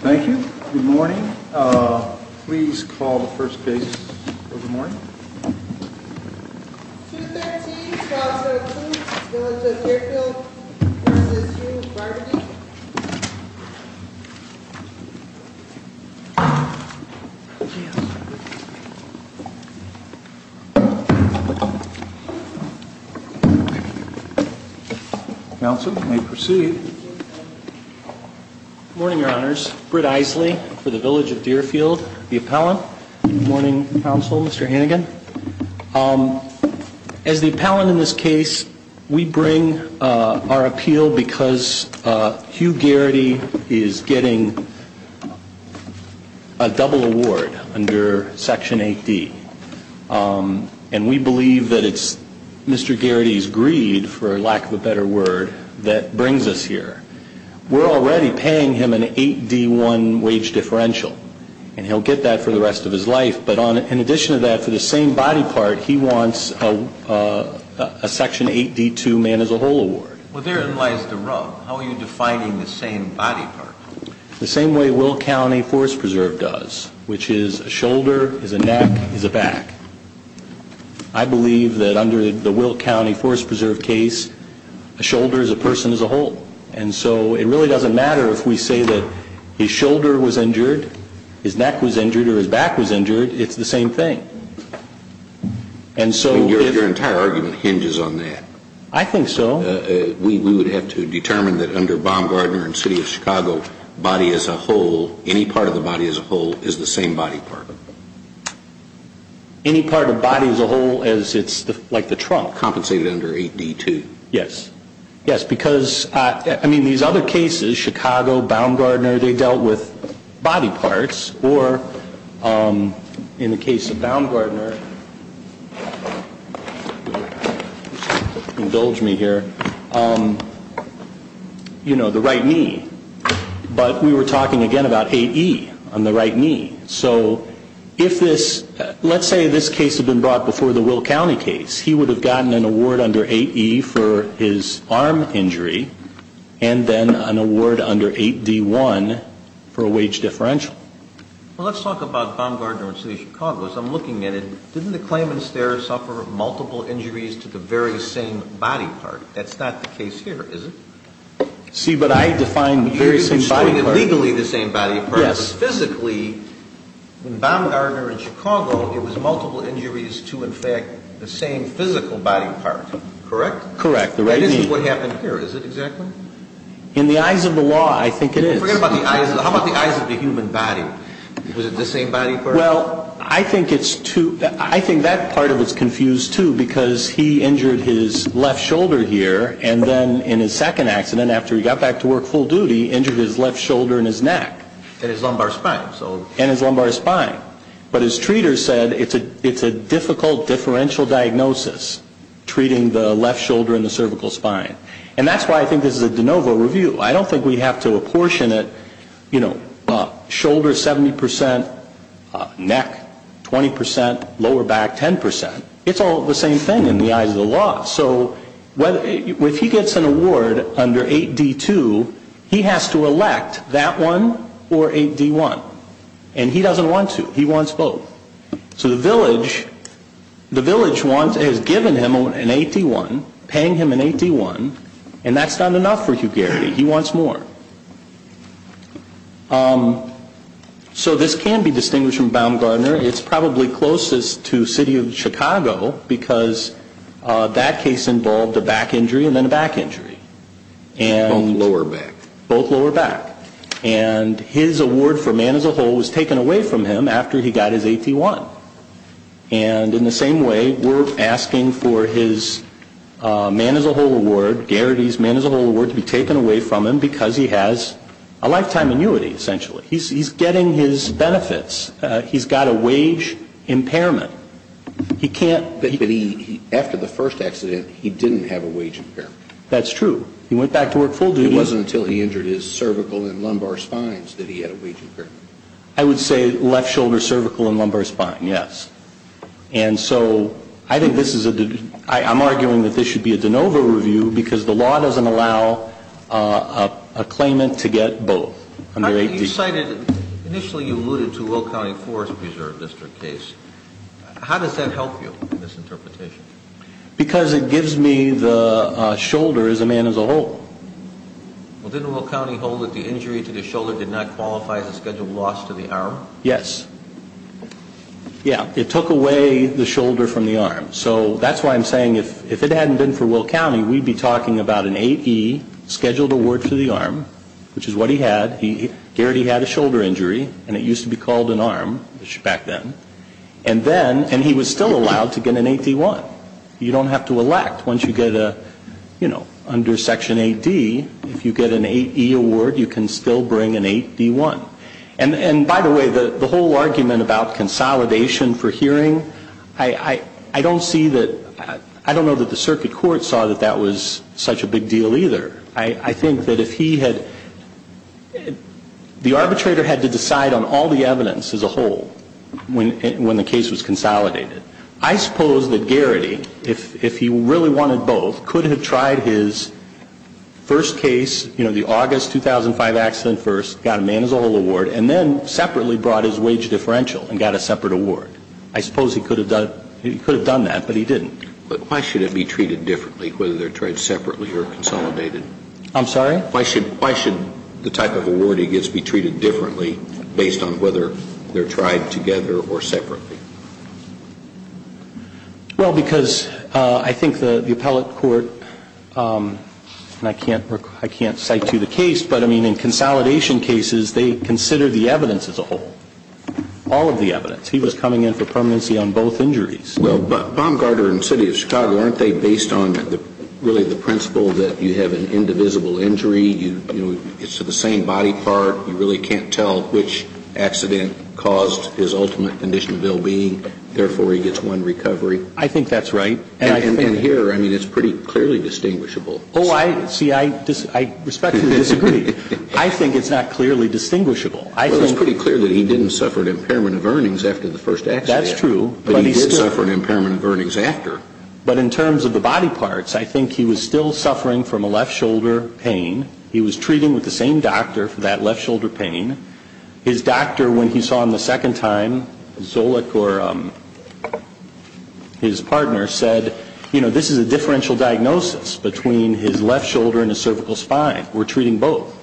Thank you. Good morning. Please call the first case of the morning. 213-1217, Village of Deerfield v. Hugh Barberdeen. Counsel, you may proceed. Good morning, Your Honors. Britt Isley for the Village of Deerfield, the appellant. Good morning, Counsel. Mr. Hannigan. As the appellant in this case, we bring our appeal because Hugh Garrity is getting a double award under Section 8D. And we believe that it's Mr. Garrity's greed, for lack of a better word, that brings us here. We're already paying him an 8D-1 wage differential, and he'll get that for the rest of his life. But in addition to that, for the same body part, he wants a Section 8D-2 man-as-a-whole award. Well, therein lies the rub. How are you defining the same body part? The same way Wilk County Forest Preserve does, which is a shoulder is a neck is a back. I believe that under the Wilk County Forest Preserve case, a shoulder is a person-as-a-whole. And so it really doesn't matter if we say that his shoulder was injured, his neck was injured, or his back was injured. It's the same thing. Your entire argument hinges on that. I think so. We would have to determine that under Baumgardner and City of Chicago, body-as-a-whole, any part of the body-as-a-whole is the same body part. Any part of body-as-a-whole is like the trunk. Compensated under 8D-2. Yes. Yes, because, I mean, these other cases, Chicago, Baumgardner, they dealt with body parts. Or in the case of Baumgardner, indulge me here, you know, the right knee. But we were talking again about 8E on the right knee. So if this, let's say this case had been brought before the Wilk County case. He would have gotten an award under 8E for his arm injury, and then an award under 8D-1 for a wage differential. Well, let's talk about Baumgardner and City of Chicago. As I'm looking at it, didn't the claimants there suffer multiple injuries to the very same body part? That's not the case here, is it? See, but I defined the very same body part. Yes. Physically, in Baumgardner and Chicago, it was multiple injuries to, in fact, the same physical body part. Correct? Correct. The right knee. That isn't what happened here, is it, exactly? In the eyes of the law, I think it is. Forget about the eyes. How about the eyes of the human body? Was it the same body part? Well, I think it's too, I think that part of it's confused, too, because he injured his left shoulder here, and then in his second accident, after he got back to work full duty, injured his left shoulder and his neck. And his lumbar spine. And his lumbar spine. But his treaters said it's a difficult differential diagnosis, treating the left shoulder and the cervical spine. And that's why I think this is a de novo review. I don't think we have to apportion it, you know, shoulder 70 percent, neck 20 percent, lower back 10 percent. It's all the same thing in the eyes of the law. So if he gets an award under 8D2, he has to elect that one or 8D1. And he doesn't want to. He wants both. So the village wants, has given him an 8D1, paying him an 8D1, and that's not enough for Hugarity. He wants more. So this can be distinguished from Baumgartner. It's probably closest to city of Chicago because that case involved a back injury and then a back injury. Both lower back. Both lower back. And his award for man as a whole was taken away from him after he got his 8D1. And in the same way, we're asking for his man as a whole award, Garrity's man as a whole award to be taken away from him because he has a lifetime annuity, essentially. He's getting his benefits. He's got a wage impairment. He can't be. But he, after the first accident, he didn't have a wage impairment. That's true. He went back to work full duty. It wasn't until he injured his cervical and lumbar spines that he had a wage impairment. I would say left shoulder, cervical, and lumbar spine, yes. And so I think this is a, I'm arguing that this should be a de novo review because the law doesn't allow a claimant to get both under 8D2. Initially you alluded to Will County Forest Preserve District case. How does that help you in this interpretation? Because it gives me the shoulder as a man as a whole. Well, didn't Will County hold that the injury to the shoulder did not qualify as a scheduled loss to the arm? Yes. Yeah. It took away the shoulder from the arm. So that's why I'm saying if it hadn't been for Will County, we'd be talking about an 8E scheduled award for the arm, which is what he had. He already had a shoulder injury, and it used to be called an arm back then. And then, and he was still allowed to get an 8D1. You don't have to elect. Once you get a, you know, under Section 8D, if you get an 8E award, you can still bring an 8D1. And by the way, the whole argument about consolidation for hearing, I don't see that, I don't know that the circuit court saw that that was such a big deal either. I think that if he had, the arbitrator had to decide on all the evidence as a whole when the case was consolidated. I suppose that Garrity, if he really wanted both, could have tried his first case, you know, the August 2005 accident first, got a man as a whole award, and then separately brought his wage differential and got a separate award. I suppose he could have done that, but he didn't. But why should it be treated differently, whether they're tried separately or consolidated? I'm sorry? Why should the type of award he gets be treated differently based on whether they're tried together or separately? Well, because I think the appellate court, and I can't cite you the case, but I mean in consolidation cases, they consider the evidence as a whole, all of the evidence. He was coming in for permanency on both injuries. Well, Baumgartner and the City of Chicago, aren't they based on really the principle that you have an indivisible injury? You know, it's the same body part. You really can't tell which accident caused his ultimate condition of ill-being. Therefore, he gets one recovery. I think that's right. And here, I mean, it's pretty clearly distinguishable. Oh, see, I respectfully disagree. I think it's not clearly distinguishable. Well, it's pretty clear that he didn't suffer an impairment of earnings after the first accident. That's true. But he did suffer an impairment of earnings after. But in terms of the body parts, I think he was still suffering from a left shoulder pain. He was treating with the same doctor for that left shoulder pain. His doctor, when he saw him the second time, Zolich or his partner, said, you know, this is a differential diagnosis between his left shoulder and his cervical spine. We're treating both.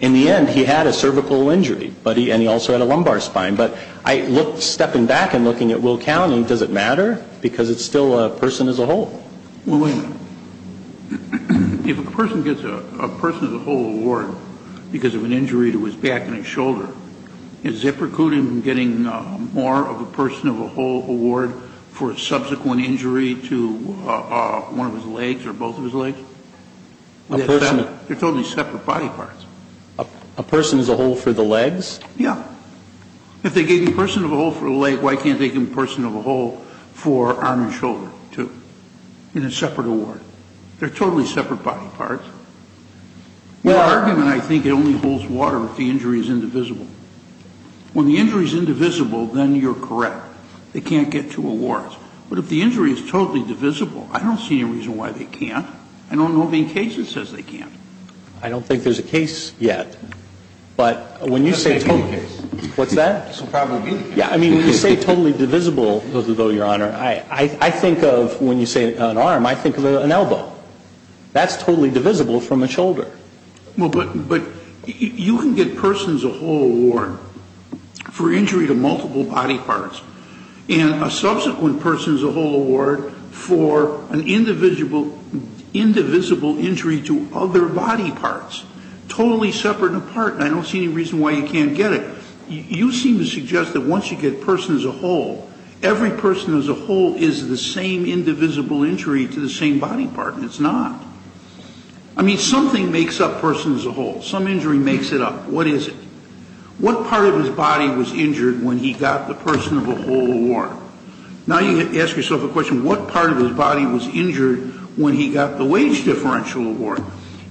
In the end, he had a cervical injury, and he also had a lumbar spine. But I look, stepping back and looking at Will County, does it matter? Because it's still a person as a whole. Well, wait a minute. If a person gets a person as a whole award because of an injury to his back and his shoulder, is it precluding getting more of a person of a whole award for a subsequent injury to one of his legs or both of his legs? A person. They're totally separate body parts. A person as a whole for the legs? Yeah. If they gave him a person of a whole for the leg, why can't they give him a person of a whole for arm and shoulder, too, in a separate award? They're totally separate body parts. Your argument, I think, only holds water if the injury is indivisible. When the injury is indivisible, then you're correct. They can't get two awards. But if the injury is totally divisible, I don't see any reason why they can't. I don't know of any case that says they can't. I don't think there's a case yet. But when you say totally, what's that? This will probably be the case. Yeah. I mean, when you say totally divisible, though, Your Honor, I think of when you say an arm, I think of an elbow. That's totally divisible from a shoulder. Well, but you can get persons of a whole award for injury to multiple body parts and a subsequent person as a whole award for an indivisible injury to other body parts. Totally separate and apart, and I don't see any reason why you can't get it. You seem to suggest that once you get persons of a whole, every person as a whole is the same indivisible injury to the same body part, and it's not. I mean, something makes up persons of a whole. Some injury makes it up. What is it? What part of his body was injured when he got the person of a whole award? Now you ask yourself a question, what part of his body was injured when he got the wage differential award?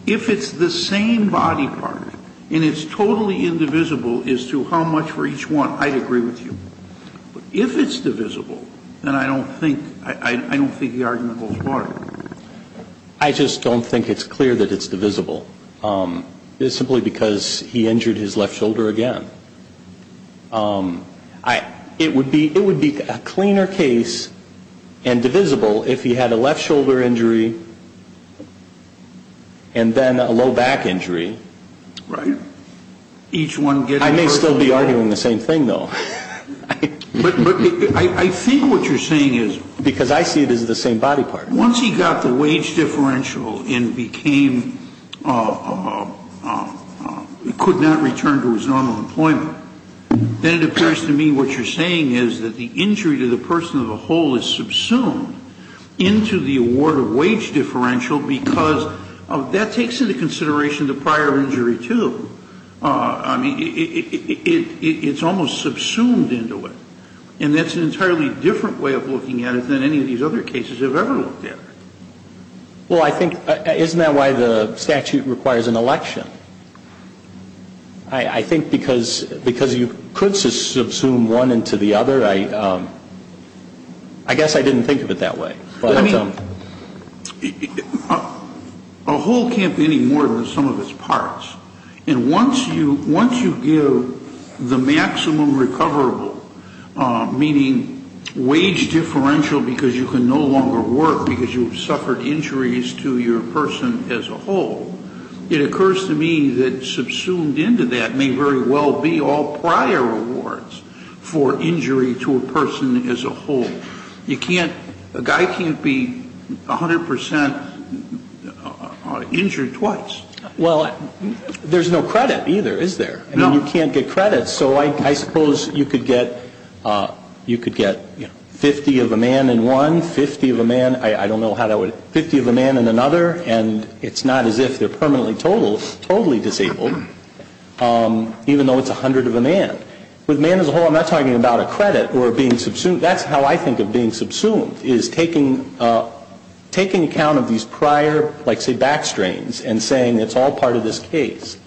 If it's the same body part and it's totally indivisible as to how much for each one, I'd agree with you. But if it's divisible, then I don't think the argument holds water. I just don't think it's clear that it's divisible. It's simply because he injured his left shoulder again. It would be a cleaner case and divisible if he had a left shoulder injury and then a low back injury. Right. I may still be arguing the same thing, though. But I think what you're saying is. Because I see it as the same body part. Once he got the wage differential and became, could not return to his normal employment, then it appears to me what you're saying is that the injury to the person of a whole is subsumed into the award of wage differential because that takes into consideration the prior injury, too. I mean, it's almost subsumed into it. And that's an entirely different way of looking at it than any of these other cases I've ever looked at. Well, I think, isn't that why the statute requires an election? I think because you could subsume one into the other. I guess I didn't think of it that way. I mean, a whole can't be any more than the sum of its parts. And once you give the maximum recoverable, meaning wage differential because you can no longer work because you've suffered injuries to your person as a whole, it occurs to me that subsumed into that may very well be all prior awards for injury to a person as a whole. You can't, a guy can't be 100% injured twice. Well, there's no credit either, is there? No. And you can't get credit. So I suppose you could get, you know, 50 of a man in one, 50 of a man, I don't know how that would, but 50 of a man in another, and it's not as if they're permanently totally disabled, even though it's 100 of a man. With man as a whole, I'm not talking about a credit or being subsumed. That's how I think of being subsumed, is taking account of these prior, like say back strains, and saying it's all part of this case.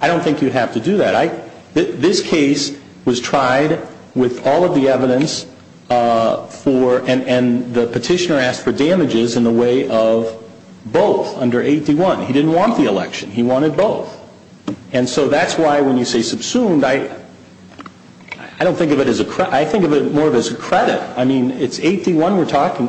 I don't think you'd have to do that. Right? This case was tried with all of the evidence for, and the petitioner asked for damages in the way of both under 8D1. He didn't want the election. He wanted both. And so that's why when you say subsumed, I don't think of it as a, I think of it more as a credit. I mean, it's 8D1 we're talking,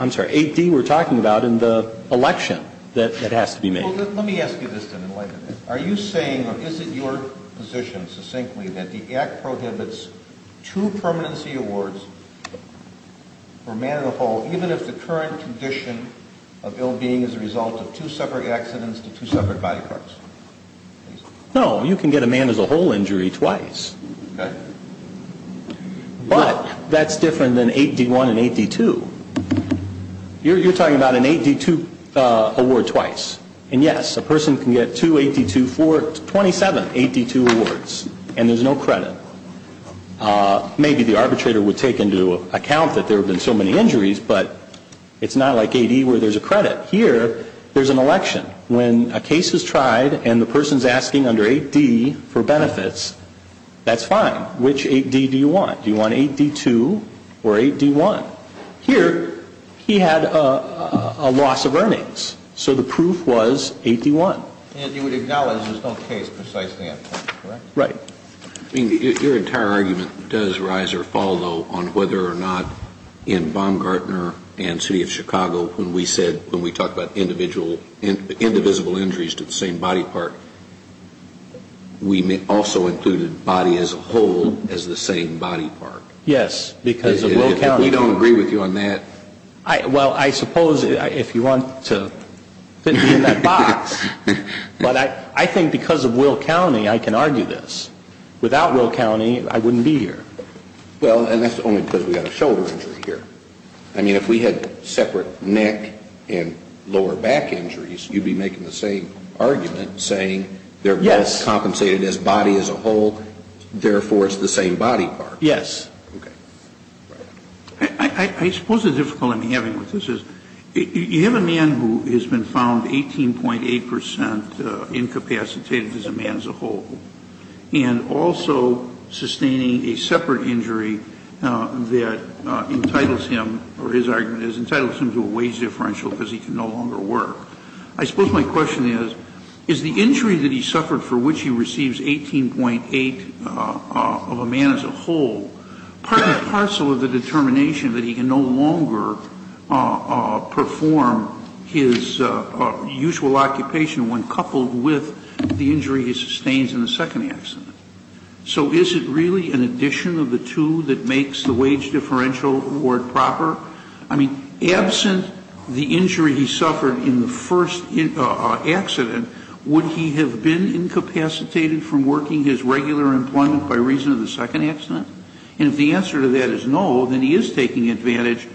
I'm sorry, 8D we're talking about in the election that has to be made. Well, let me ask you this then in light of that. Are you saying, or is it your position succinctly that the Act prohibits two permanency awards for man as a whole, even if the current condition of ill-being is a result of two separate accidents to two separate body parts? No, you can get a man as a whole injury twice. Okay. But that's different than 8D1 and 8D2. You're talking about an 8D2 award twice. And yes, a person can get two 8D2, 27 8D2 awards, and there's no credit. Maybe the arbitrator would take into account that there have been so many injuries, but it's not like 8E where there's a credit. Here, there's an election. When a case is tried and the person's asking under 8D for benefits, that's fine. Which 8D do you want? Do you want 8D2 or 8D1? Here, he had a loss of earnings, so the proof was 8D1. And you would acknowledge there's no case precisely at point, correct? Right. I mean, your entire argument does rise or fall, though, on whether or not in Baumgartner and City of Chicago when we said, when we talked about individual, indivisible injuries to the same body part, we also included body as a whole as the same body part. Yes, because of Will County. If we don't agree with you on that. Well, I suppose if you want to fit me in that box. But I think because of Will County, I can argue this. Without Will County, I wouldn't be here. Well, and that's only because we got a shoulder injury here. I mean, if we had separate neck and lower back injuries, you'd be making the same argument, saying they're both compensated as body as a whole, therefore it's the same body part. Yes. Okay. I suppose the difficulty I'm having with this is you have a man who has been found 18.8% incapacitated as a man as a whole, and also sustaining a separate injury that entitles him, or his argument is, entitles him to a wage differential because he can no longer work. I suppose my question is, is the injury that he suffered for which he receives 18.8% of a man as a whole part and parcel of the determination that he can no longer perform his usual occupation when coupled with the injury he sustains in the second accident? So is it really an addition of the two that makes the wage differential award proper? I mean, absent the injury he suffered in the first accident, would he have been incapacitated from working his regular employment by reason of the second accident? And if the answer to that is no, then he is taking advantage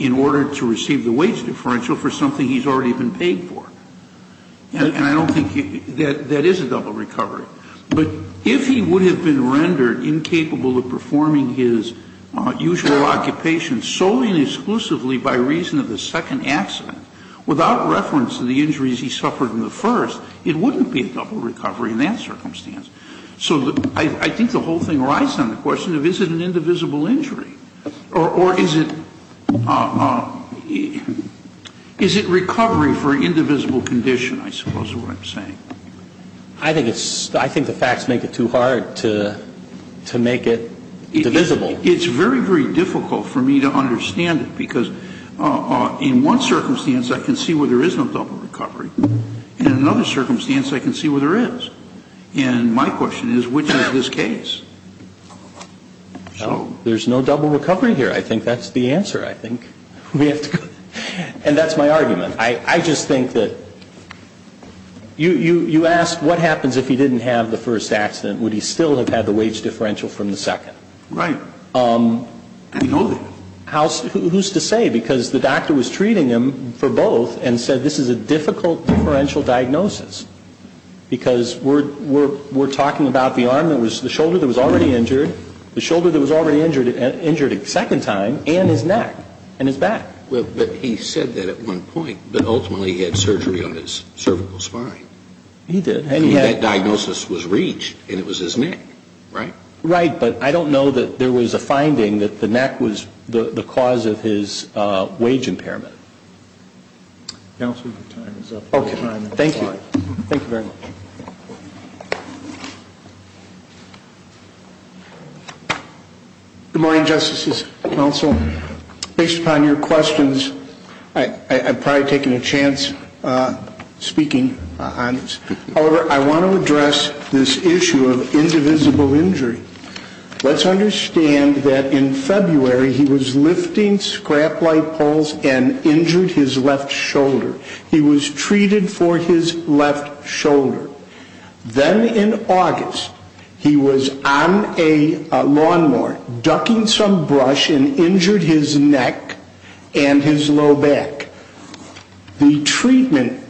in order to receive the wage differential for something he's already been paid for. And I don't think that is a double recovery. But if he would have been rendered incapable of performing his usual occupation solely and exclusively by reason of the second accident, without reference to the injuries he suffered in the first, it wouldn't be a double recovery in that circumstance. So I think the whole thing rides on the question of is it an indivisible injury? Or is it recovery for an indivisible condition, I suppose is what I'm saying. I think the facts make it too hard to make it divisible. It's very, very difficult for me to understand it. Because in one circumstance, I can see where there is no double recovery. In another circumstance, I can see where there is. And my question is, which is this case? There's no double recovery here. I think that's the answer, I think. And that's my argument. I just think that you asked what happens if he didn't have the first accident? Would he still have had the wage differential from the second? Right. I don't know that. Who's to say? Because the doctor was treating him for both and said this is a difficult differential diagnosis. Because we're talking about the shoulder that was already injured, the shoulder that was already injured a second time, and his neck and his back. Well, but he said that at one point. But ultimately he had surgery on his cervical spine. He did. And that diagnosis was reached, and it was his neck, right? Right. But I don't know that there was a finding that the neck was the cause of his wage impairment. Counsel, your time is up. Okay. Thank you. Thank you very much. Good morning, Justices Counsel. Based upon your questions, I've probably taken a chance speaking on this. However, I want to address this issue of indivisible injury. Let's understand that in February he was lifting scrap light poles and injured his left shoulder. He was treated for his left shoulder. Then in August he was on a lawn mower ducking some brush and injured his neck and his low back. The treatment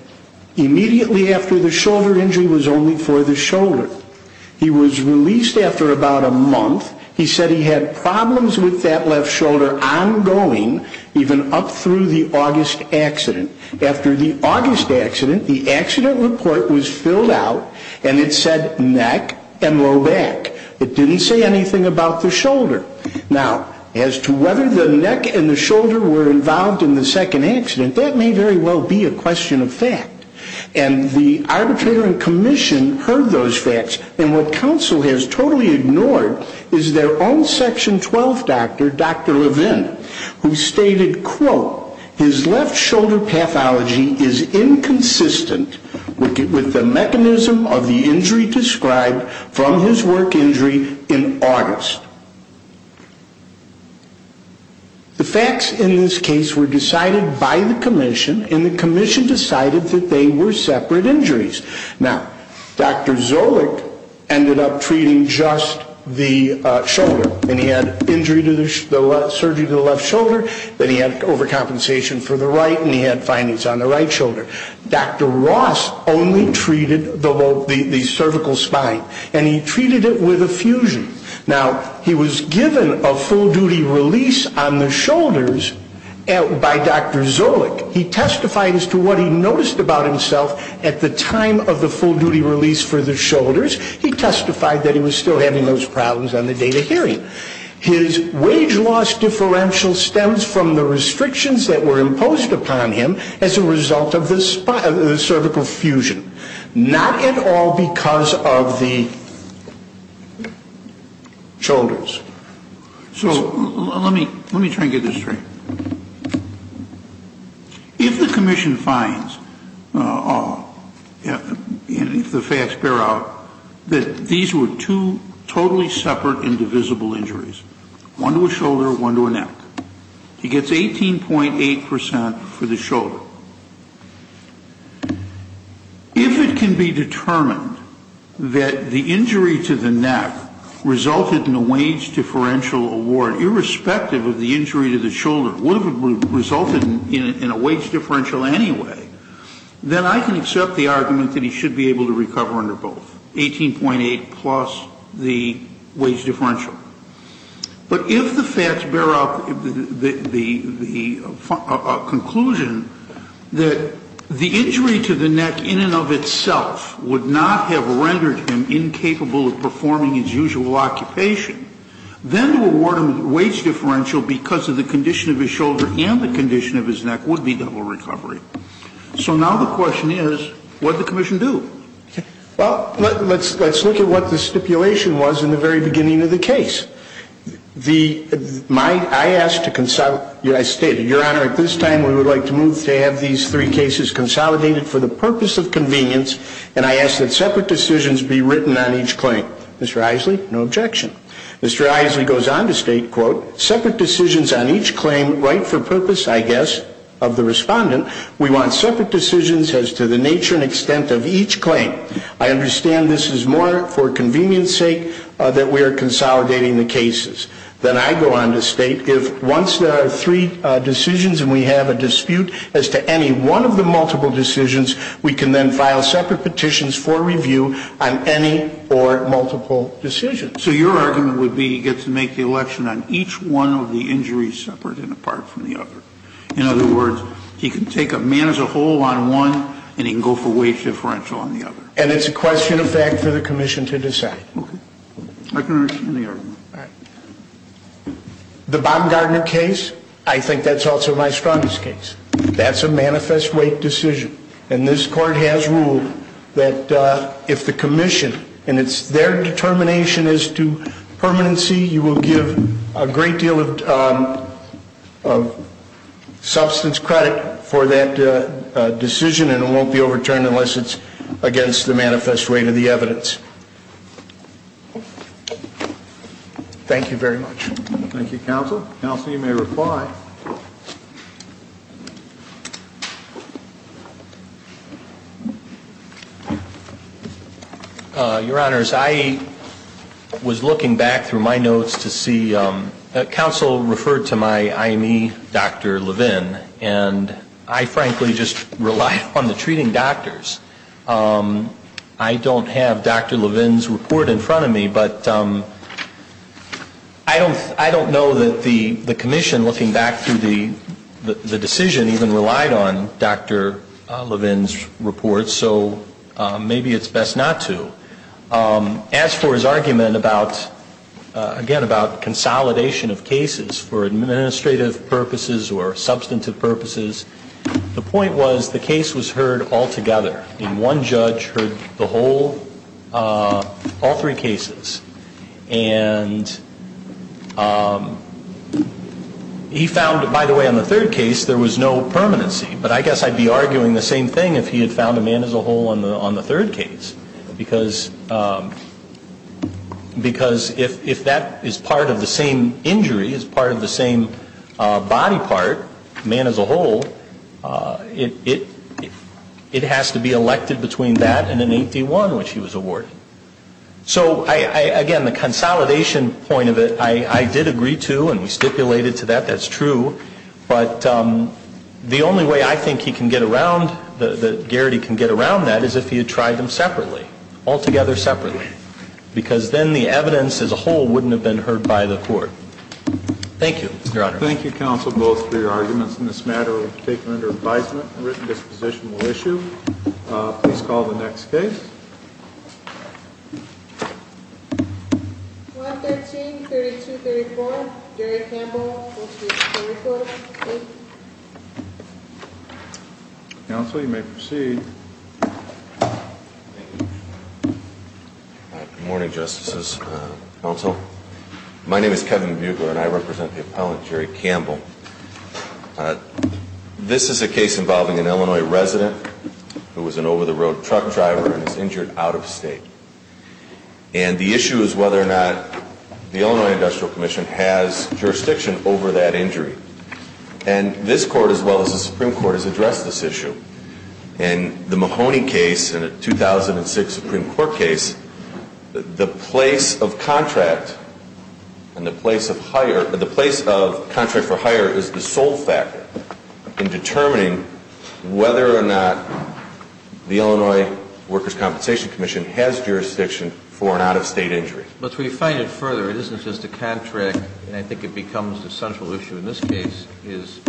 immediately after the shoulder injury was only for the shoulder. He was released after about a month. He said he had problems with that left shoulder ongoing even up through the August accident. After the August accident, the accident report was filled out, and it said neck and low back. It didn't say anything about the shoulder. Now, as to whether the neck and the shoulder were involved in the second accident, that may very well be a question of fact. And the arbitrator and commission heard those facts, and what counsel has totally ignored is their own Section 12 doctor, Dr. Levin, who stated, quote, his left shoulder pathology is inconsistent with the mechanism of the injury described from his work injury in August. The facts in this case were decided by the commission, and the commission decided that they were separate injuries. Now, Dr. Zolich ended up treating just the shoulder, and he had surgery to the left shoulder, then he had overcompensation for the right, and he had findings on the right shoulder. Dr. Ross only treated the cervical spine, and he treated it with a fusion. Now, he was given a full-duty release on the shoulders by Dr. Zolich. He testified as to what he noticed about himself at the time of the full-duty release for the shoulders. He testified that he was still having those problems on the day of hearing. His wage loss differential stems from the restrictions that were imposed upon him as a result of the cervical fusion, not at all because of the shoulders. So let me try and get this straight. If the commission finds, if the facts bear out, that these were two totally separate and divisible injuries, one to a shoulder, one to a neck, he gets 18.8% for the shoulder. If it can be determined that the injury to the neck resulted in a wage differential award, irrespective of the injury to the shoulder, would have resulted in a wage differential anyway, then I can accept the argument that he should be able to recover under both, 18.8% plus the wage differential. But if the facts bear out the conclusion that the injury to the neck in and of itself would not have rendered him incapable of performing his usual occupation, then to award him a wage differential because of the condition of his shoulder and the condition of his neck would be double recovery. So now the question is, what did the commission do? Well, let's look at what the stipulation was in the very beginning of the case. I asked to consolidate. I stated, Your Honor, at this time we would like to move to have these three cases consolidated for the purpose of convenience, and I ask that separate decisions be written on each claim. Mr. Eiseley, no objection. Mr. Eiseley goes on to state, quote, separate decisions on each claim right for purpose, I guess, of the respondent. We want separate decisions as to the nature and extent of each claim. I understand this is more for convenience sake that we are consolidating the cases. Then I go on to state, if once there are three decisions and we have a dispute as to any one of the multiple decisions, we can then file separate petitions for review on any or multiple decisions. So your argument would be he gets to make the election on each one of the injuries separate and apart from the other. In other words, he can take a man as a whole on one and he can go for wage differential on the other. And it's a question of fact for the commission to decide. Okay. I can understand the argument. All right. The Bob Gardner case, I think that's also my strongest case. That's a manifest weight decision, and this Court has ruled that if the commission, and it's their determination as to permanency, you will give a great deal of substance credit for that decision and it won't be overturned unless it's against the manifest weight of the evidence. Thank you very much. Thank you, Counsel. Counsel, you may reply. Your Honors, I was looking back through my notes to see, Counsel referred to my IME, Dr. Levin, and I frankly just rely on the treating doctors. I don't have Dr. Levin's report in front of me, but I don't know that the commission, looking back through the decision, even relied on Dr. Levin's report, so maybe it's best not to. As for his argument about, again, about consolidation of cases for administrative purposes or substantive purposes, the point was the case was heard altogether, and one judge heard the whole, all three cases. And he found, by the way, on the third case there was no permanency, but I guess I'd be arguing the same thing if he had found a man as a whole on the third case, because if that is part of the same injury, is part of the same body part, man as a whole, it has to be elected between that and an 8D1, which he was awarded. So, again, the consolidation point of it, I did agree to, and we stipulated to that. That's true. But the only way I think he can get around, that Garrity can get around that, is if he had tried them separately, altogether separately, because then the evidence as a whole wouldn't have been heard by the court. Thank you, Your Honor. Thank you, Counsel, both, for your arguments in this matter. We take them under advisement. A written disposition will issue. Please call the next case. 113-3234, Jerry Campbell. Counsel, you may proceed. Good morning, Justices, Counsel. My name is Kevin Bugler, and I represent the appellant, Jerry Campbell. This is a case involving an Illinois resident who was an over-the-road truck driver and is injured out of state. And the issue is whether or not the Illinois Industrial Commission has jurisdiction over that injury. And this Court, as well as the Supreme Court, has addressed this issue. In the Mahoney case and the 2006 Supreme Court case, the place of contract for hire is the sole factor in determining whether or not the Illinois Workers' Compensation Commission has jurisdiction for an out-of-state injury. But to refine it further, it isn't just a contract, and I think it becomes the central issue in this case, is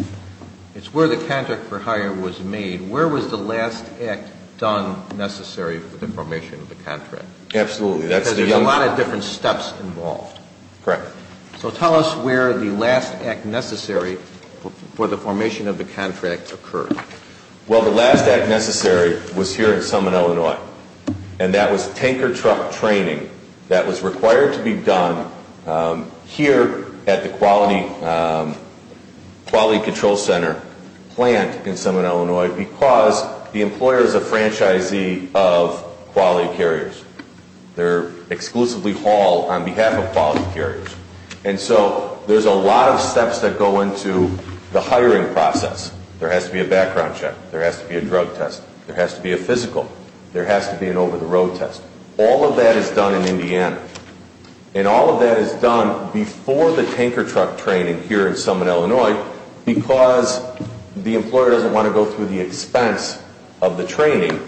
it's where the contract for hire was made. Where was the last act done necessary for the formation of the contract? Absolutely. Because there's a lot of different steps involved. Correct. So tell us where the last act necessary for the formation of the contract occurred. Well, the last act necessary was here in Summit, Illinois, and that was tanker truck training that was required to be done here at the Quality Control Center plant in Summit, Illinois, because the employer is a franchisee of quality carriers. They're exclusively hauled on behalf of quality carriers. And so there's a lot of steps that go into the hiring process. There has to be a background check. There has to be a drug test. There has to be a physical. There has to be an over-the-road test. All of that is done in Indiana, and all of that is done before the tanker truck training here in Summit, Illinois, because the employer doesn't want to go through the expense of the training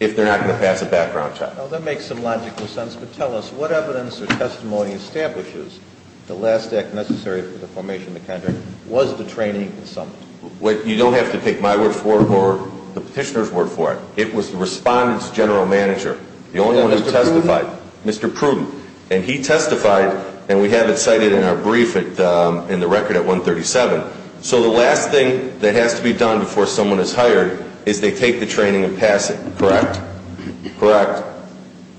if they're not going to pass a background check. Now, that makes some logical sense, but tell us what evidence or testimony establishes the last act necessary for the formation of the contract was the training in Summit? You don't have to pick my word for it or the petitioner's word for it. It was the respondent's general manager, the only one who testified. Mr. Pruden? Mr. Pruden. And he testified, and we have it cited in our brief in the record at 137. So the last thing that has to be done before someone is hired is they take the training and pass it, correct? Correct.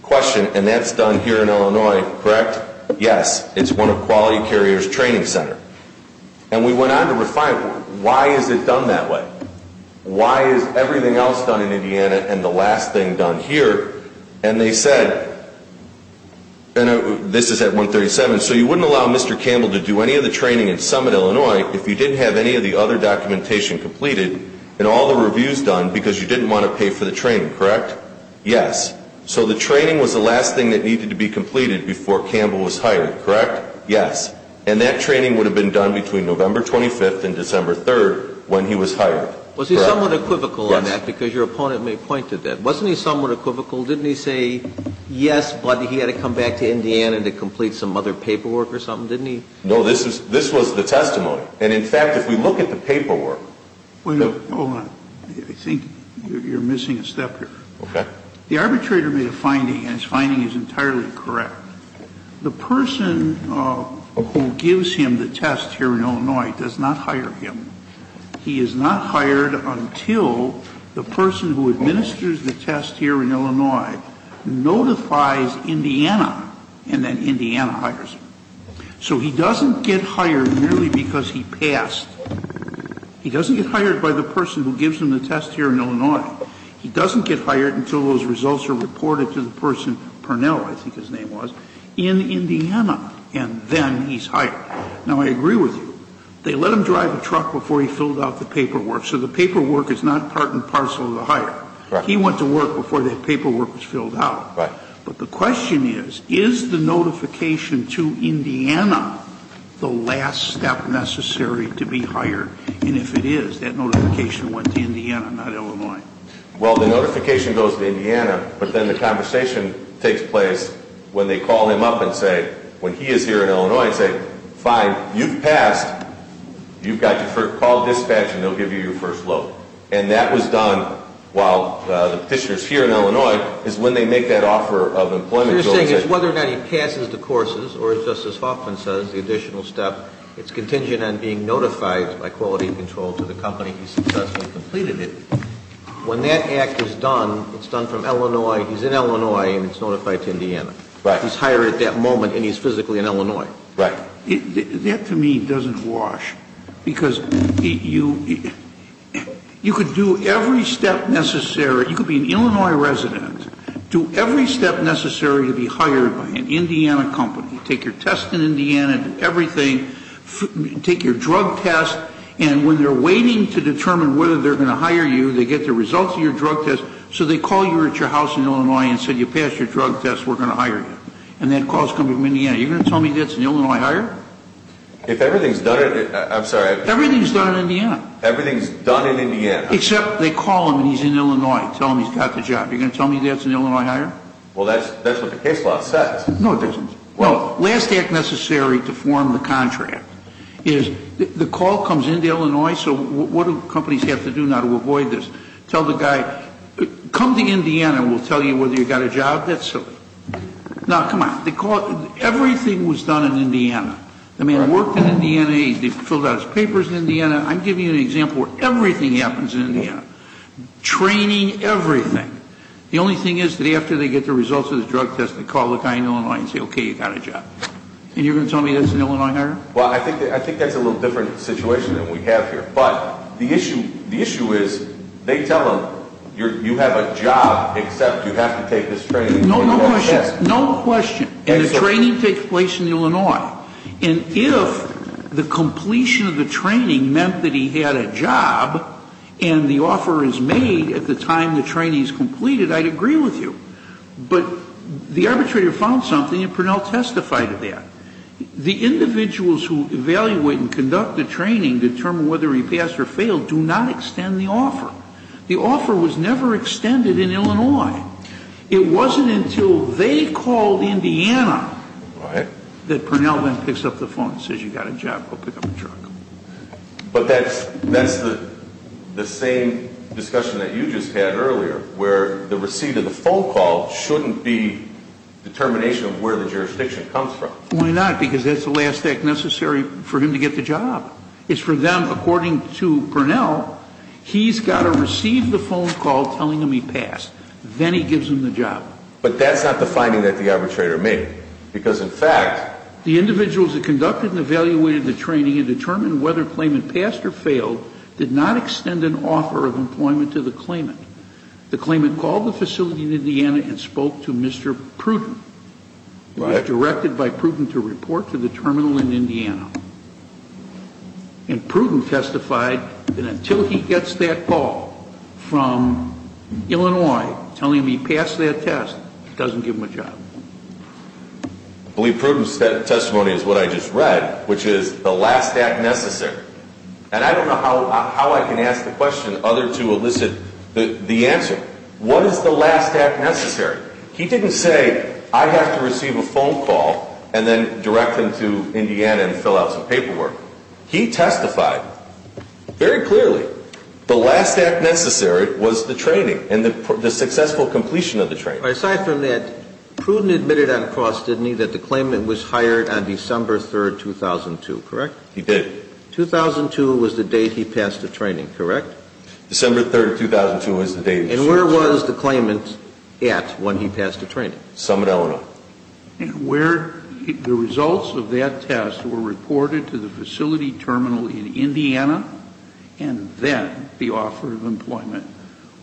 Question, and that's done here in Illinois, correct? Yes. It's one of Quality Carrier's training centers. And we went on to refine, why is it done that way? Why is everything else done in Indiana and the last thing done here? And they said, and this is at 137, So you wouldn't allow Mr. Campbell to do any of the training in Summit, Illinois, if you didn't have any of the other documentation completed and all the reviews done because you didn't want to pay for the training, correct? Yes. So the training was the last thing that needed to be completed before Campbell was hired, correct? Yes. And that training would have been done between November 25th and December 3rd when he was hired, correct? Was he somewhat equivocal on that? Yes. Because your opponent may point to that. Wasn't he somewhat equivocal? Didn't he say, yes, but he had to come back to Indiana to complete some other paperwork or something, didn't he? No, this was the testimony. And, in fact, if we look at the paperwork, Wait a minute. Hold on. I think you're missing a step here. Okay. The arbitrator made a finding, and his finding is entirely correct. The person who gives him the test here in Illinois does not hire him. He is not hired until the person who administers the test here in Illinois notifies Indiana and then Indiana hires him. So he doesn't get hired merely because he passed. He doesn't get hired by the person who gives him the test here in Illinois. He doesn't get hired until those results are reported to the person, Purnell I think his name was, in Indiana, and then he's hired. Now, I agree with you. They let him drive a truck before he filled out the paperwork, so the paperwork is not part and parcel of the hire. He went to work before that paperwork was filled out. But the question is, is the notification to Indiana the last step necessary to be hired? And if it is, that notification went to Indiana, not Illinois. Well, the notification goes to Indiana, but then the conversation takes place when they call him up and say, when he is here in Illinois and say, fine, you've passed, you've got to call dispatch and they'll give you your first load. And that was done while the petitioner is here in Illinois is when they make that offer of employment. So you're saying it's whether or not he passes the courses or, as Justice Hoffman says, the additional step, it's contingent on being notified by quality control to the company he successfully completed it. When that act is done, it's done from Illinois, he's in Illinois and it's notified to Indiana. Right. Because he's hired at that moment and he's physically in Illinois. Right. That, to me, doesn't wash. Because you could do every step necessary. You could be an Illinois resident, do every step necessary to be hired by an Indiana company, take your test in Indiana, do everything, take your drug test, and when they're waiting to determine whether they're going to hire you, they get the results of your drug test, so they call you at your house in Illinois and say, you passed your drug test, we're going to hire you. And that call is coming from Indiana. You're going to tell me that's an Illinois hire? If everything is done in Indiana. I'm sorry. Everything is done in Indiana. Everything is done in Indiana. Except they call him and he's in Illinois and tell him he's got the job. You're going to tell me that's an Illinois hire? Well, that's what the case law says. No, it doesn't. Well, last act necessary to form the contract is the call comes in to Illinois, so what do companies have to do now to avoid this? Tell the guy, come to Indiana, we'll tell you whether you've got a job. That's silly. Now, come on. Everything was done in Indiana. The man worked in Indiana, he filled out his papers in Indiana. I'm giving you an example where everything happens in Indiana. Training, everything. The only thing is that after they get the results of the drug test, they call the guy in Illinois and say, okay, you've got a job. And you're going to tell me that's an Illinois hire? Well, I think that's a little different situation than we have here. But the issue is they tell him, you have a job, except you have to take this training. No questions. No question. And the training takes place in Illinois. And if the completion of the training meant that he had a job and the offer is made at the time the training is completed, I'd agree with you. But the arbitrator found something and Prunell testified to that. The individuals who evaluate and conduct the training determine whether he passed or failed do not extend the offer. The offer was never extended in Illinois. It wasn't until they called Indiana that Prunell then picks up the phone and says, you've got a job, go pick up the truck. But that's the same discussion that you just had earlier where the receipt of the phone call shouldn't be determination of where the jurisdiction comes from. Why not? Because that's the last act necessary for him to get the job. It's for them, according to Prunell, he's got to receive the phone call telling him he passed. Then he gives him the job. But that's not the finding that the arbitrator made. Because, in fact, the individuals that conducted and evaluated the training and determined whether Klayman passed or failed did not extend an offer of employment to the Klayman. The Klayman called the facility in Indiana and spoke to Mr. Prunell. It was directed by Prunell to report to the terminal in Indiana. And Prunell testified that until he gets that call from Illinois telling him he passed that test, it doesn't give him a job. I believe Prunell's testimony is what I just read, which is the last act necessary. And I don't know how I can ask the question other to elicit the answer. What is the last act necessary? He didn't say, I have to receive a phone call and then direct them to Indiana and fill out some paperwork. He testified very clearly the last act necessary was the training and the successful completion of the training. Aside from that, Prunell admitted on cross, didn't he, that the Klayman was hired on December 3, 2002, correct? He did. 2002 was the date he passed the training, correct? December 3, 2002 was the date. And where was the Klayman at when he passed the training? Summit, Illinois. And where the results of that test were reported to the facility terminal in Indiana and then the offer of employment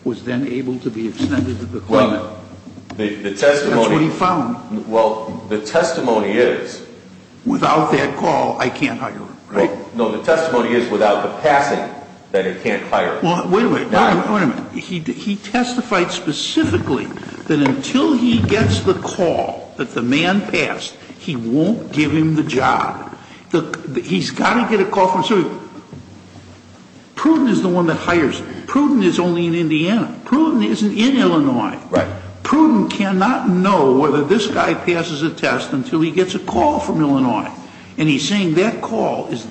was then able to be extended to the Klayman? Well, the testimony. That's what he found. Well, the testimony is. Without that call, I can't hire him, right? No, the testimony is without the passing that he can't hire him. Well, wait a minute. He testified specifically that until he gets the call that the man passed, he won't give him the job. He's got to get a call from somebody. Prunell is the one that hires him. Prunell is only in Indiana. Prunell isn't in Illinois. Right. Prunell cannot know whether this guy passes a test until he gets a call from Illinois. And he's saying that call is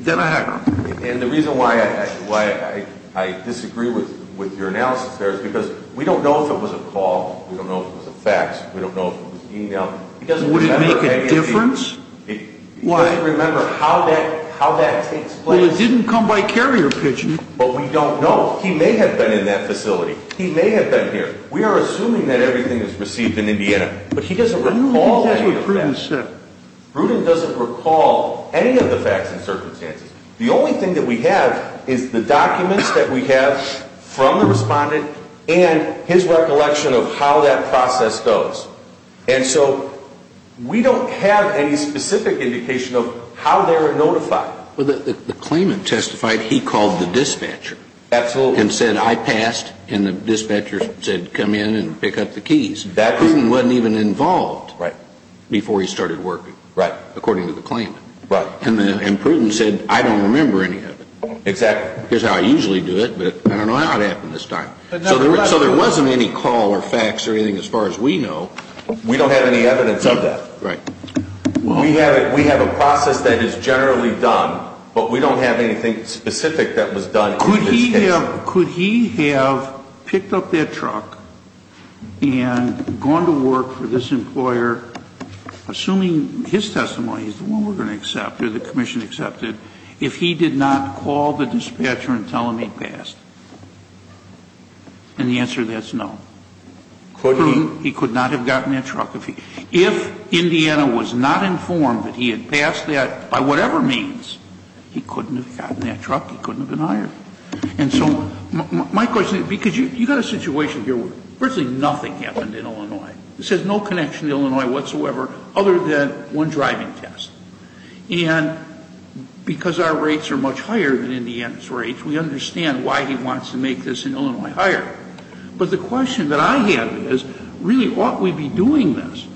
then a hacker. And the reason why I disagree with your analysis there is because we don't know if it was a call, we don't know if it was a fax, we don't know if it was an e-mail. Would it make a difference? He doesn't remember how that takes place. Well, it didn't come by carrier pigeon. But we don't know. He may have been in that facility. He may have been here. We are assuming that everything is received in Indiana, but he doesn't recall any of that. I don't think that's what Prunell said. Prunell doesn't recall any of the facts and circumstances. The only thing that we have is the documents that we have from the respondent and his recollection of how that process goes. And so we don't have any specific indication of how they were notified. Well, the claimant testified he called the dispatcher. Absolutely. And said, I passed. And the dispatcher said, come in and pick up the keys. Prunell wasn't even involved before he started working. Right. According to the claimant. Right. And Prunell said, I don't remember any of it. Exactly. Here's how I usually do it, but I don't know how it happened this time. So there wasn't any call or facts or anything as far as we know. We don't have any evidence of that. Right. We have a process that is generally done, but we don't have anything specific that was done in this case. Could he have picked up that truck and gone to work for this employer, assuming his testimony is the one we're going to accept or the commission accepted, if he did not call the dispatcher and tell him he passed? And the answer to that is no. Could he? He could not have gotten that truck. If Indiana was not informed that he had passed that, by whatever means, he couldn't have gotten that truck. He couldn't have been hired. And so my question is, because you've got a situation here where virtually nothing happened in Illinois. This has no connection to Illinois whatsoever other than one driving test. And because our rates are much higher than Indiana's rates, we understand why he wants to make this in Illinois higher. But the question that I have is, really, ought we be doing this?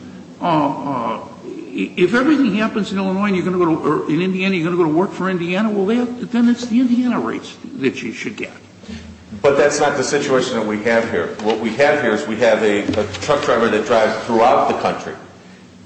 If everything happens in Illinois and you're going to go to work for Indiana, well, then it's the Indiana rates that you should get. But that's not the situation that we have here. What we have here is we have a truck driver that drives throughout the country.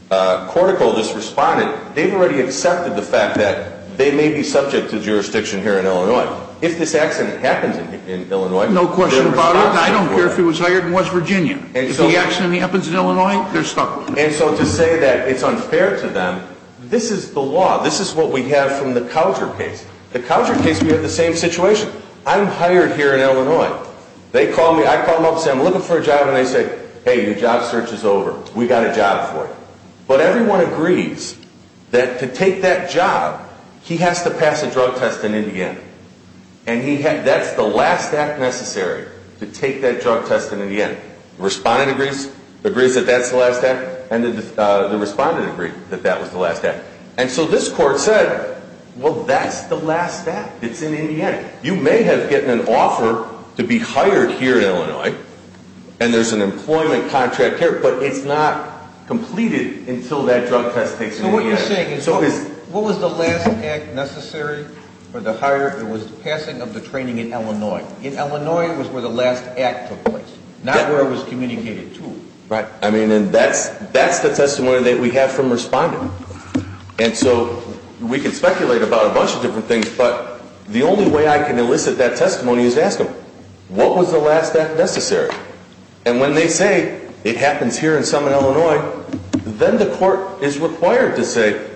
Corticol just responded. They've already accepted the fact that they may be subject to jurisdiction here in Illinois. If this accident happens in Illinois, they're stuck. No question about it. I don't care if he was hired in West Virginia. If the accident happens in Illinois, they're stuck. And so to say that it's unfair to them, this is the law. This is what we have from the Coucher case. The Coucher case, we have the same situation. I'm hired here in Illinois. They call me. I call them up and say, I'm looking for a job. And they say, hey, your job search is over. We've got a job for you. But everyone agrees that to take that job, he has to pass a drug test in Indiana. And that's the last act necessary to take that drug test in Indiana. Respondent agrees, agrees that that's the last act. And the respondent agreed that that was the last act. And so this court said, well, that's the last act. It's in Indiana. You may have gotten an offer to be hired here in Illinois, and there's an employment contract here, but it's not completed until that drug test takes place in Indiana. So what you're saying is what was the last act necessary for the hire? It was the passing of the training in Illinois. In Illinois, it was where the last act took place, not where it was communicated to. Right. I mean, and that's the testimony that we have from respondents. And so we can speculate about a bunch of different things, but the only way I can elicit that testimony is to ask them, what was the last act necessary? And when they say it happens here and some in Illinois, then the court is required to say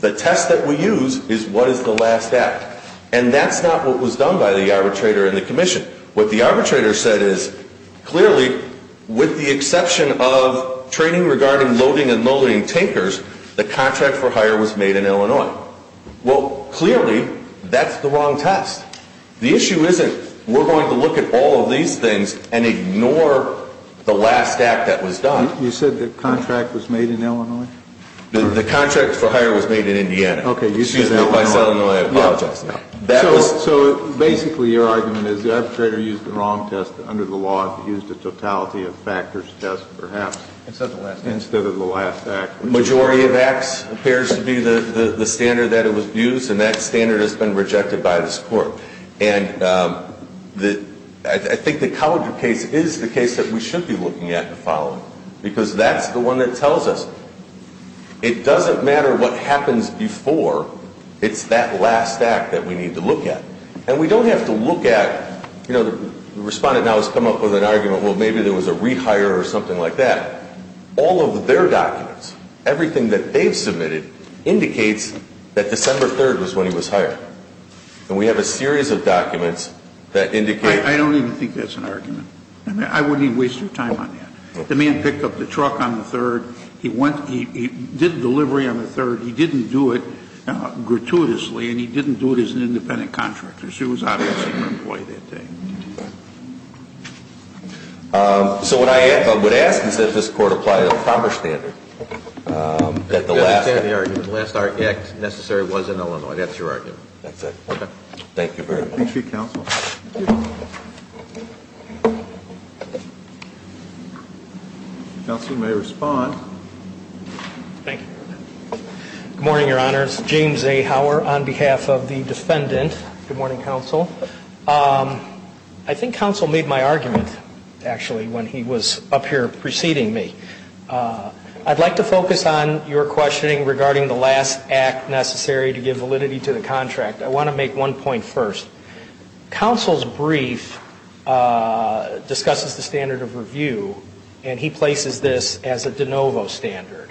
the test that we use is what is the last act. And that's not what was done by the arbitrator and the commission. What the arbitrator said is, clearly, with the exception of training regarding loading and loading tankers, the contract for hire was made in Illinois. Well, clearly, that's the wrong test. The issue isn't we're going to look at all of these things and ignore the last act that was done. You said the contract was made in Illinois? The contract for hire was made in Indiana. Excuse me, if I said it in Illinois, I apologize. So basically, your argument is the arbitrator used the wrong test under the law and used a totality of factors test, perhaps, instead of the last act. The majority of acts appears to be the standard that it was used, and that standard has been rejected by this court. And I think the College case is the case that we should be looking at and following because that's the one that tells us. It doesn't matter what happens before. It's that last act that we need to look at. And we don't have to look at, you know, the respondent now has come up with an argument, well, maybe there was a rehire or something like that. All of their documents, everything that they've submitted, indicates that December 3rd was when he was hired. And we have a series of documents that indicate. I don't even think that's an argument. I wouldn't even waste your time on that. The man picked up the truck on the 3rd. He went, he did delivery on the 3rd. He didn't do it gratuitously, and he didn't do it as an independent contractor. So he was obviously an employee that day. So what I would ask is that this Court apply a proper standard. The last act necessary was in Illinois. That's your argument. That's it. Thank you very much. Thank you, counsel. Counsel may respond. Thank you. Good morning, Your Honors. James A. Hauer on behalf of the defendant. Good morning, counsel. I think counsel made my argument, actually, when he was up here preceding me. I'd like to focus on your questioning regarding the last act necessary to give validity to the contract. I want to make one point first. Counsel's brief discusses the standard of review, and he places this as a de novo standard.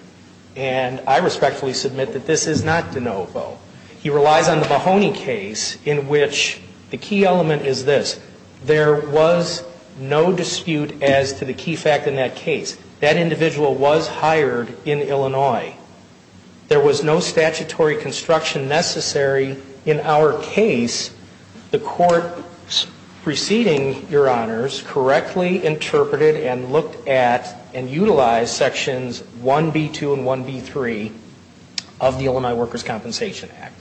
And I respectfully submit that this is not de novo. He relies on the Mahoney case in which the key element is this. There was no dispute as to the key fact in that case. That individual was hired in Illinois. There was no statutory construction necessary in our case. The Court, preceding Your Honors, correctly interpreted and looked at and utilized sections 1B2 and 1B3 of the Illinois Workers' Compensation Act.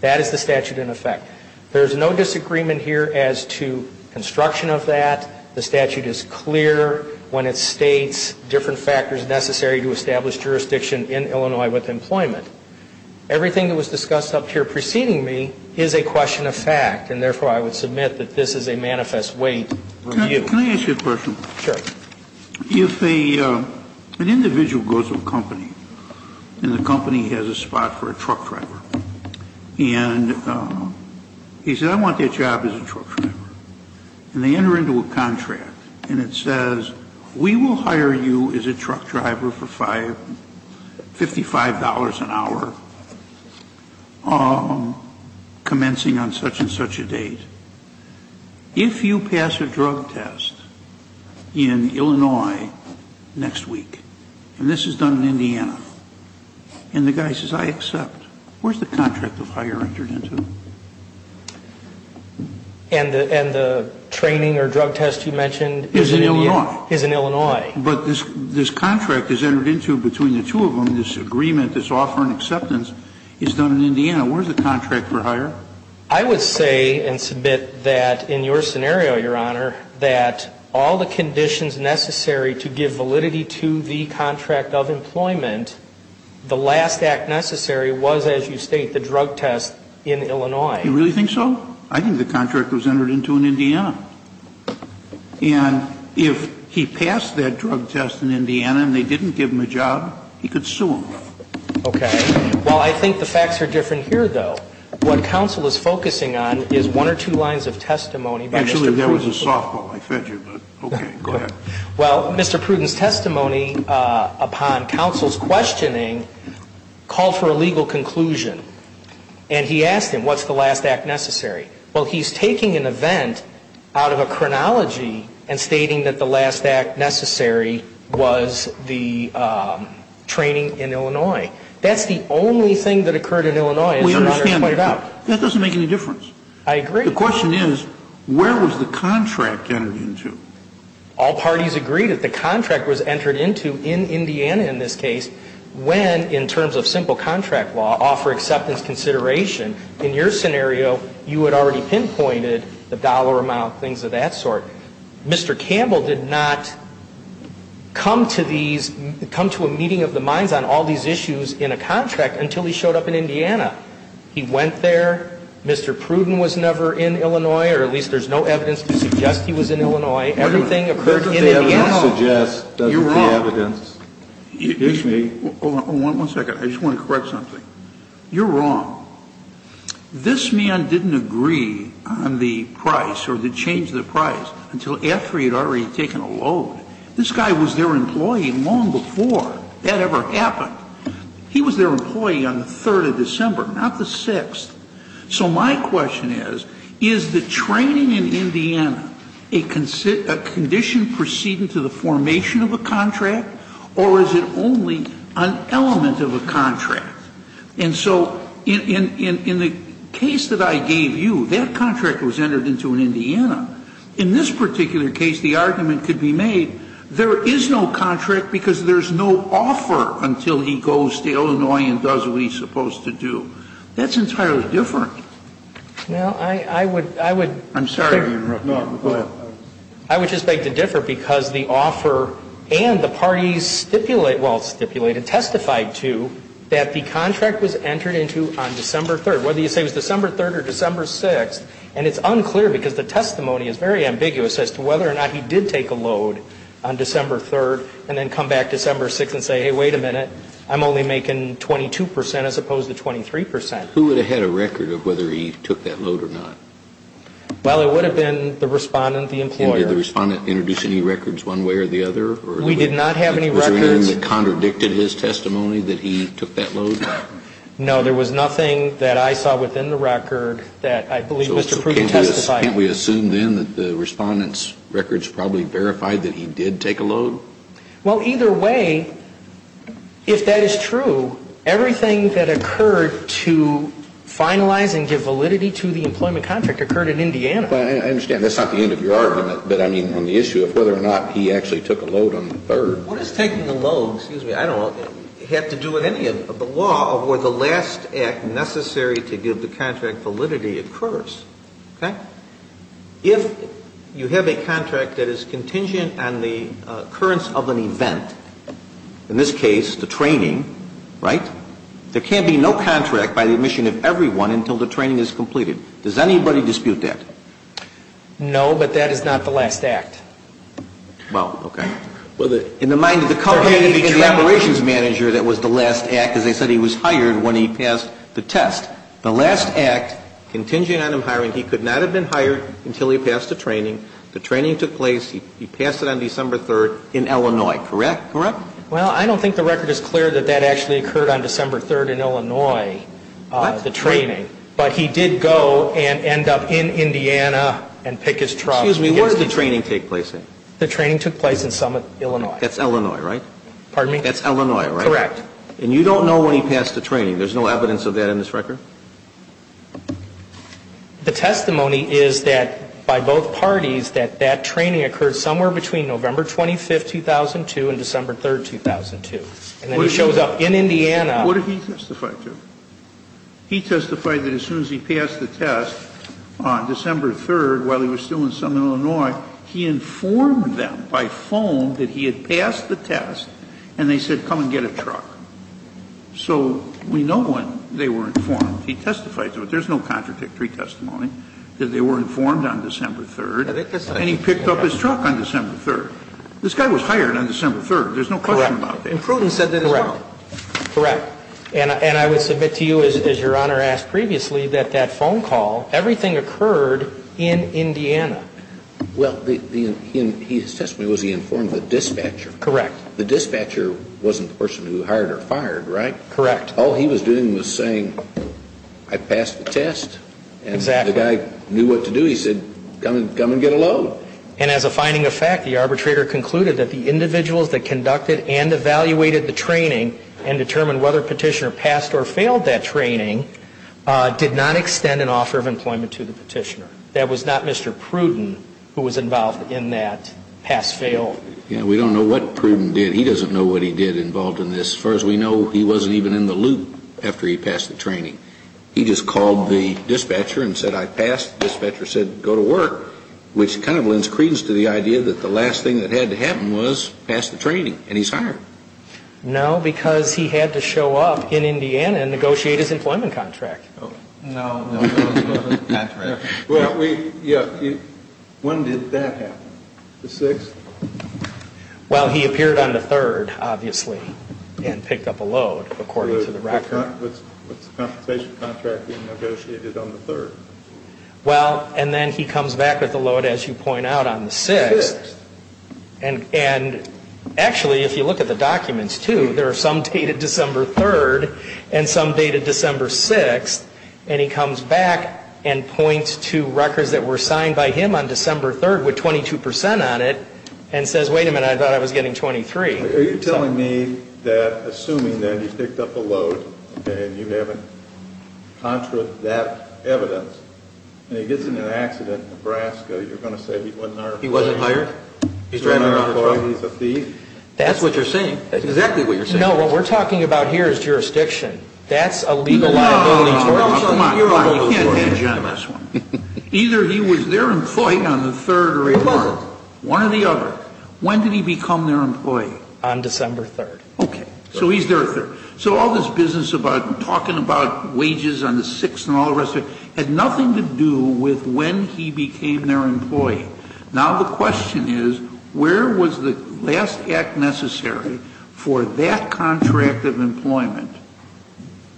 That is the statute in effect. There is no disagreement here as to construction of that. The statute is clear when it states different factors necessary to establish jurisdiction in Illinois with employment. Everything that was discussed up here preceding me is a question of fact, and therefore I would submit that this is a manifest weight review. Can I ask you a question? Sure. If an individual goes to a company, and the company has a spot for a truck driver, and he says, I want that job as a truck driver. And they enter into a contract, and it says, we will hire you as a truck driver for $55 an hour, commencing on such and such a date. If you pass a drug test in Illinois next week, and this is done in Indiana, and the guy says, I accept, where is the contract the fire entered into? And the training or drug test you mentioned is in Illinois. Is in Illinois. But this contract is entered into between the two of them, this agreement, this offer and acceptance is done in Indiana. Where is the contract for hire? I would say and submit that in your scenario, Your Honor, that all the conditions necessary to give validity to the contract of employment, the last act necessary was, as you state, the drug test in Illinois. You really think so? I think the contract was entered into in Indiana. And if he passed that drug test in Indiana, and they didn't give him a job, he could sue them. Okay. Well, I think the facts are different here, though. What counsel is focusing on is one or two lines of testimony by Mr. Pruden. Actually, that was a softball. I fed you, but okay, go ahead. Well, Mr. Pruden's testimony upon counsel's questioning called for a legal conclusion. And he asked him, what's the last act necessary? Well, he's taking an event out of a chronology and stating that the last act necessary was the training in Illinois. That's the only thing that occurred in Illinois, as Your Honor pointed out. We understand that. That doesn't make any difference. I agree. The question is, where was the contract entered into? All parties agreed that the contract was entered into in Indiana in this case when, in terms of simple contract law, offer acceptance consideration. In your scenario, you had already pinpointed the dollar amount, things of that sort. Mr. Campbell did not come to a meeting of the minds on all these issues in a contract until he showed up in Indiana. He went there. Mr. Pruden was never in Illinois, or at least there's no evidence to suggest he was in Illinois. Everything occurred in Indiana. That's what the evidence suggests. You're wrong. That's what the evidence gives me. One second. I just want to correct something. You're wrong. This man didn't agree on the price or the change of the price until after he had already taken a load. This guy was their employee long before that ever happened. He was their employee on the 3rd of December, not the 6th. So my question is, is the training in Indiana a condition preceding to the formation of a contract, or is it only an element of a contract? And so in the case that I gave you, that contract was entered into in Indiana. In this particular case, the argument could be made there is no contract because there's no offer until he goes to Illinois and does what he's supposed to do. That's entirely different. Well, I would, I would. I'm sorry to interrupt. No, go ahead. I would just beg to differ because the offer and the parties stipulate, well, stipulated, testified to that the contract was entered into on December 3rd. Whether you say it was December 3rd or December 6th, and it's unclear because the testimony is very ambiguous as to whether or not he did take a load on December 3rd and then come back Who would have had a record of whether he took that load or not? Well, it would have been the respondent, the employer. Did the respondent introduce any records one way or the other? We did not have any records. Was there anything that contradicted his testimony that he took that load? No, there was nothing that I saw within the record that I believe Mr. Pruitt testified to. Can't we assume then that the respondent's records probably verified that he did take a load? Well, either way, if that is true, everything that occurred to finalize and give validity to the employment contract occurred in Indiana. I understand that's not the end of your argument, but I mean on the issue of whether or not he actually took a load on the 3rd. What does taking a load, excuse me, I don't know, have to do with any of the law of where the last act necessary to give the contract validity occurs? If you have a contract that is contingent on the occurrence of an event, in this case the training, right, there can't be no contract by the admission of everyone until the training is completed. Does anybody dispute that? No, but that is not the last act. Well, okay. In the mind of the company and the operations manager that was the last act, as I said, he was hired when he passed the test. The last act, contingent on him hiring, he could not have been hired until he passed the training. The training took place, he passed it on December 3rd in Illinois, correct? Well, I don't think the record is clear that that actually occurred on December 3rd in Illinois, the training. But he did go and end up in Indiana and pick his truck. Excuse me, where did the training take place then? The training took place in Summit, Illinois. That's Illinois, right? Pardon me? That's Illinois, right? Correct. And you don't know when he passed the training. There's no evidence of that in this record? The testimony is that by both parties that that training occurred somewhere between November 25th, 2002 and December 3rd, 2002. And then he shows up in Indiana. What did he testify to? He testified that as soon as he passed the test on December 3rd while he was still in Summit, Illinois, he informed them by phone that he had passed the test and they said come and get a truck. So we know when they were informed. He testified to it. There's no contradictory testimony that they were informed on December 3rd. And he picked up his truck on December 3rd. This guy was hired on December 3rd. There's no question about that. Correct. And Pruden said that as well. Correct. And I would submit to you, as Your Honor asked previously, that that phone call, everything occurred in Indiana. Well, his testimony was he informed the dispatcher. Correct. The dispatcher wasn't the person who hired or fired, right? Correct. All he was doing was saying I passed the test. Exactly. And the guy knew what to do. He said come and get a load. And as a finding of fact, the arbitrator concluded that the individuals that conducted and evaluated the training and determined whether Petitioner passed or failed that training did not extend an offer of employment to the Petitioner. That was not Mr. Pruden who was involved in that pass-fail. Yeah, we don't know what Pruden did. He doesn't know what he did involved in this. As far as we know, he wasn't even in the loop after he passed the training. He just called the dispatcher and said I passed. The dispatcher said go to work, which kind of lends credence to the idea that the last thing that had to happen was pass the training, and he's hired. No, because he had to show up in Indiana and negotiate his employment contract. No, no. That's right. When did that happen? The 6th? Well, he appeared on the 3rd, obviously, and picked up a load, according to the record. What's the compensation contract he negotiated on the 3rd? Well, and then he comes back with a load, as you point out, on the 6th. The 6th. And actually, if you look at the documents, too, there are some dated December 3rd and some dated December 6th. And he comes back and points to records that were signed by him on December 3rd with 22 percent on it and says, wait a minute, I thought I was getting 23. Are you telling me that assuming that he picked up a load and you have a contract that evidence and he gets in an accident in Nebraska, you're going to say he wasn't hired? He wasn't hired? He's a thief? That's what you're saying. That's exactly what you're saying. No, what we're talking about here is jurisdiction. That's a legal liability. You can't hedge on this one. Either he was their employee on the 3rd or the 1st. One or the other. When did he become their employee? On December 3rd. Okay. So he's their employee. So all this business about talking about wages on the 6th and all the rest of it had nothing to do with when he became their employee. Now the question is, where was the last act necessary for that contract of employment?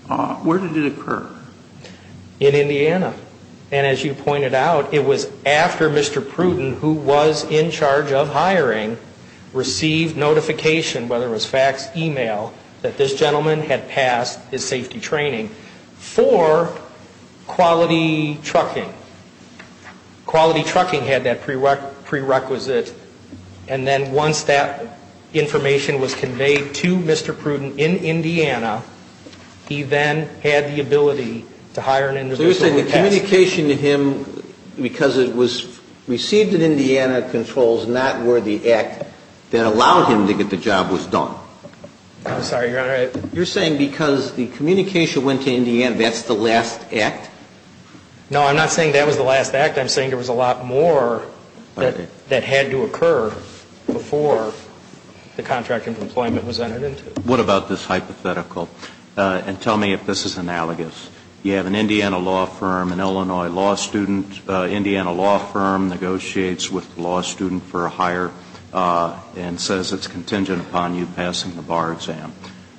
Where did it occur? In Indiana. And as you pointed out, it was after Mr. Pruden, who was in charge of hiring, received notification, whether it was fax, e-mail, that this gentleman had passed his safety training for quality trucking. Quality trucking had that prerequisite. And then once that information was conveyed to Mr. Pruden in Indiana, he then had the ability to hire an individual who passed. So you're saying the communication to him, because it was received in Indiana, controls not where the act that allowed him to get the job was done. I'm sorry, Your Honor. You're saying because the communication went to Indiana, that's the last act? No, I'm not saying that was the last act. I'm saying there was a lot more that had to occur before the contract of employment was entered into it. What about this hypothetical? And tell me if this is analogous. You have an Indiana law firm, an Illinois law student. Indiana law firm negotiates with the law student for a hire and says it's contingent upon you passing the bar exam.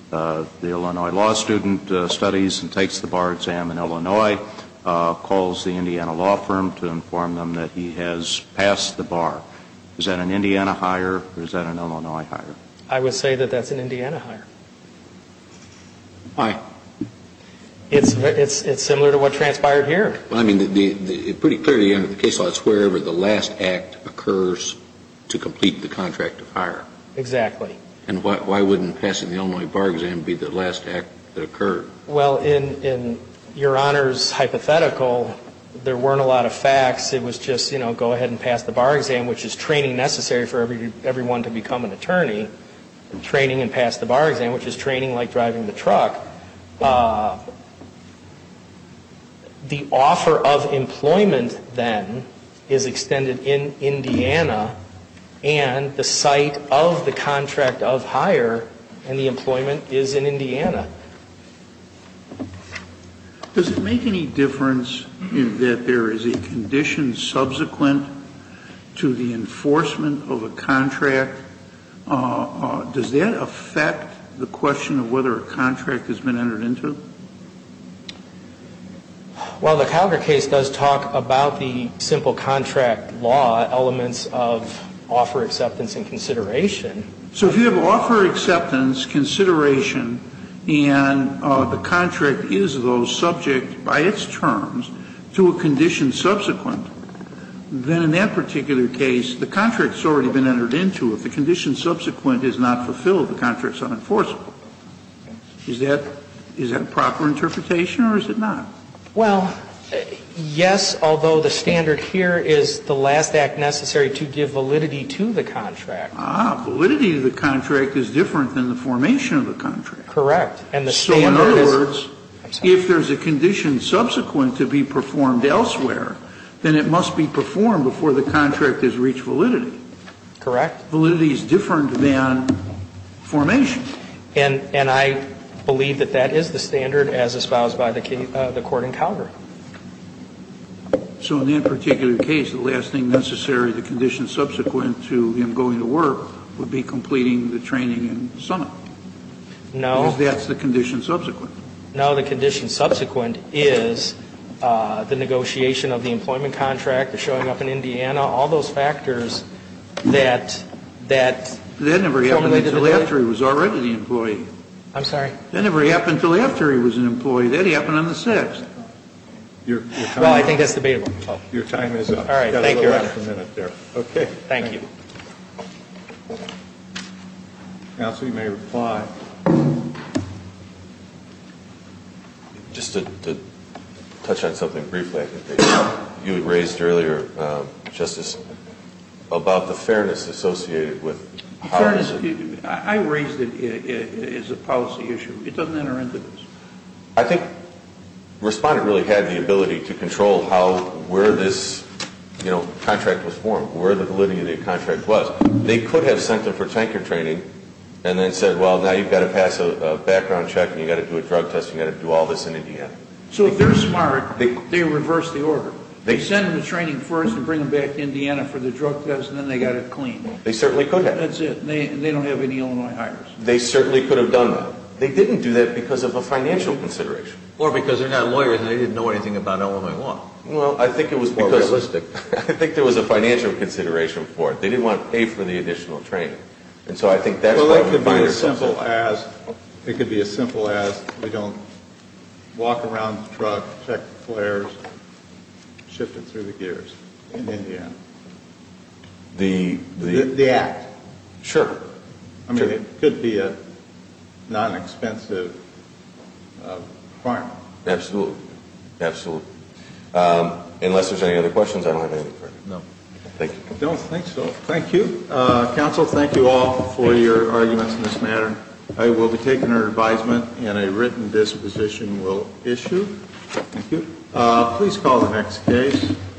The Illinois law student studies and takes the bar exam in Illinois, calls the Indiana law firm to inform them that he has passed the bar. Is that an Indiana hire or is that an Illinois hire? I would say that that's an Indiana hire. Why? It's similar to what transpired here. Well, I mean, pretty clearly, under the case law, it's wherever the last act occurs to complete the contract of hire. Exactly. And why wouldn't passing the Illinois bar exam be the last act that occurred? Well, in Your Honor's hypothetical, there weren't a lot of facts. It was just, you know, go ahead and pass the bar exam, which is training necessary for everyone to become an attorney. Training and pass the bar exam, which is training like driving the truck. The offer of employment, then, is extended in Indiana and the site of the contract of hire and the employment is in Indiana. Does it make any difference that there is a condition subsequent to the enforcement of a contract? Does that affect the question of whether a contract has been entered into? Well, the Calgar case does talk about the simple contract law elements of offer acceptance and consideration. So if you have offer acceptance, consideration, and the contract is, though, subject by its terms to a condition subsequent, then in that particular case, the contract has already been entered into. If the condition subsequent is not fulfilled, the contract is unenforceable. Is that a proper interpretation or is it not? Well, yes, although the standard here is the last act necessary to give validity to the contract. Ah, validity of the contract is different than the formation of the contract. Correct. So in other words, if there is a condition subsequent to be performed elsewhere, then it must be performed before the contract has reached validity. Correct. Validity is different than formation. And I believe that that is the standard as espoused by the court in Calgar. So in that particular case, the last thing necessary, the condition subsequent to him going to work would be completing the training in Summit. No. Because that's the condition subsequent. No, the condition subsequent is the negotiation of the employment contract, the showing up in Indiana, all those factors that That never happened until after he was already the employee. I'm sorry? That never happened until after he was an employee. That happened on the 6th. Well, I think that's debatable. Your time is up. All right, thank you. You've got a little over a minute there. Okay. Thank you. Counsel, you may reply. Just to touch on something briefly, I think you had raised earlier, Justice, about the fairness associated with policy. Fairness. I raised it as a policy issue. It doesn't enter into this. I think Respondent really had the ability to control where this contract was formed, where the validity of the contract was. They could have sent him for tanker training and then said, well, now you've got to pass a background check and you've got to do a drug test and you've got to do all this in Indiana. So if they're smart, they reverse the order. They send him to training first and bring him back to Indiana for the drug test and then they've got it cleaned. They certainly could have. That's it. They don't have any Illinois hires. They certainly could have done that. They didn't do that because of a financial consideration. Or because they're not lawyers and they didn't know anything about Illinois law. Well, I think it was more realistic. I think there was a financial consideration for it. They didn't want to pay for the additional training. And so I think that's what we find ourselves on. It could be as simple as we don't walk around the truck, check the flares, shift it through the gears in Indiana. The act. Sure. I mean, it could be a non-expensive requirement. Absolutely. Absolutely. Unless there's any other questions, I don't have anything for you. No. Thank you. I don't think so. Thank you. Counsel, thank you all for your arguments in this matter. I will be taking your advisement and a written disposition will issue. Thank you. Please call the next case.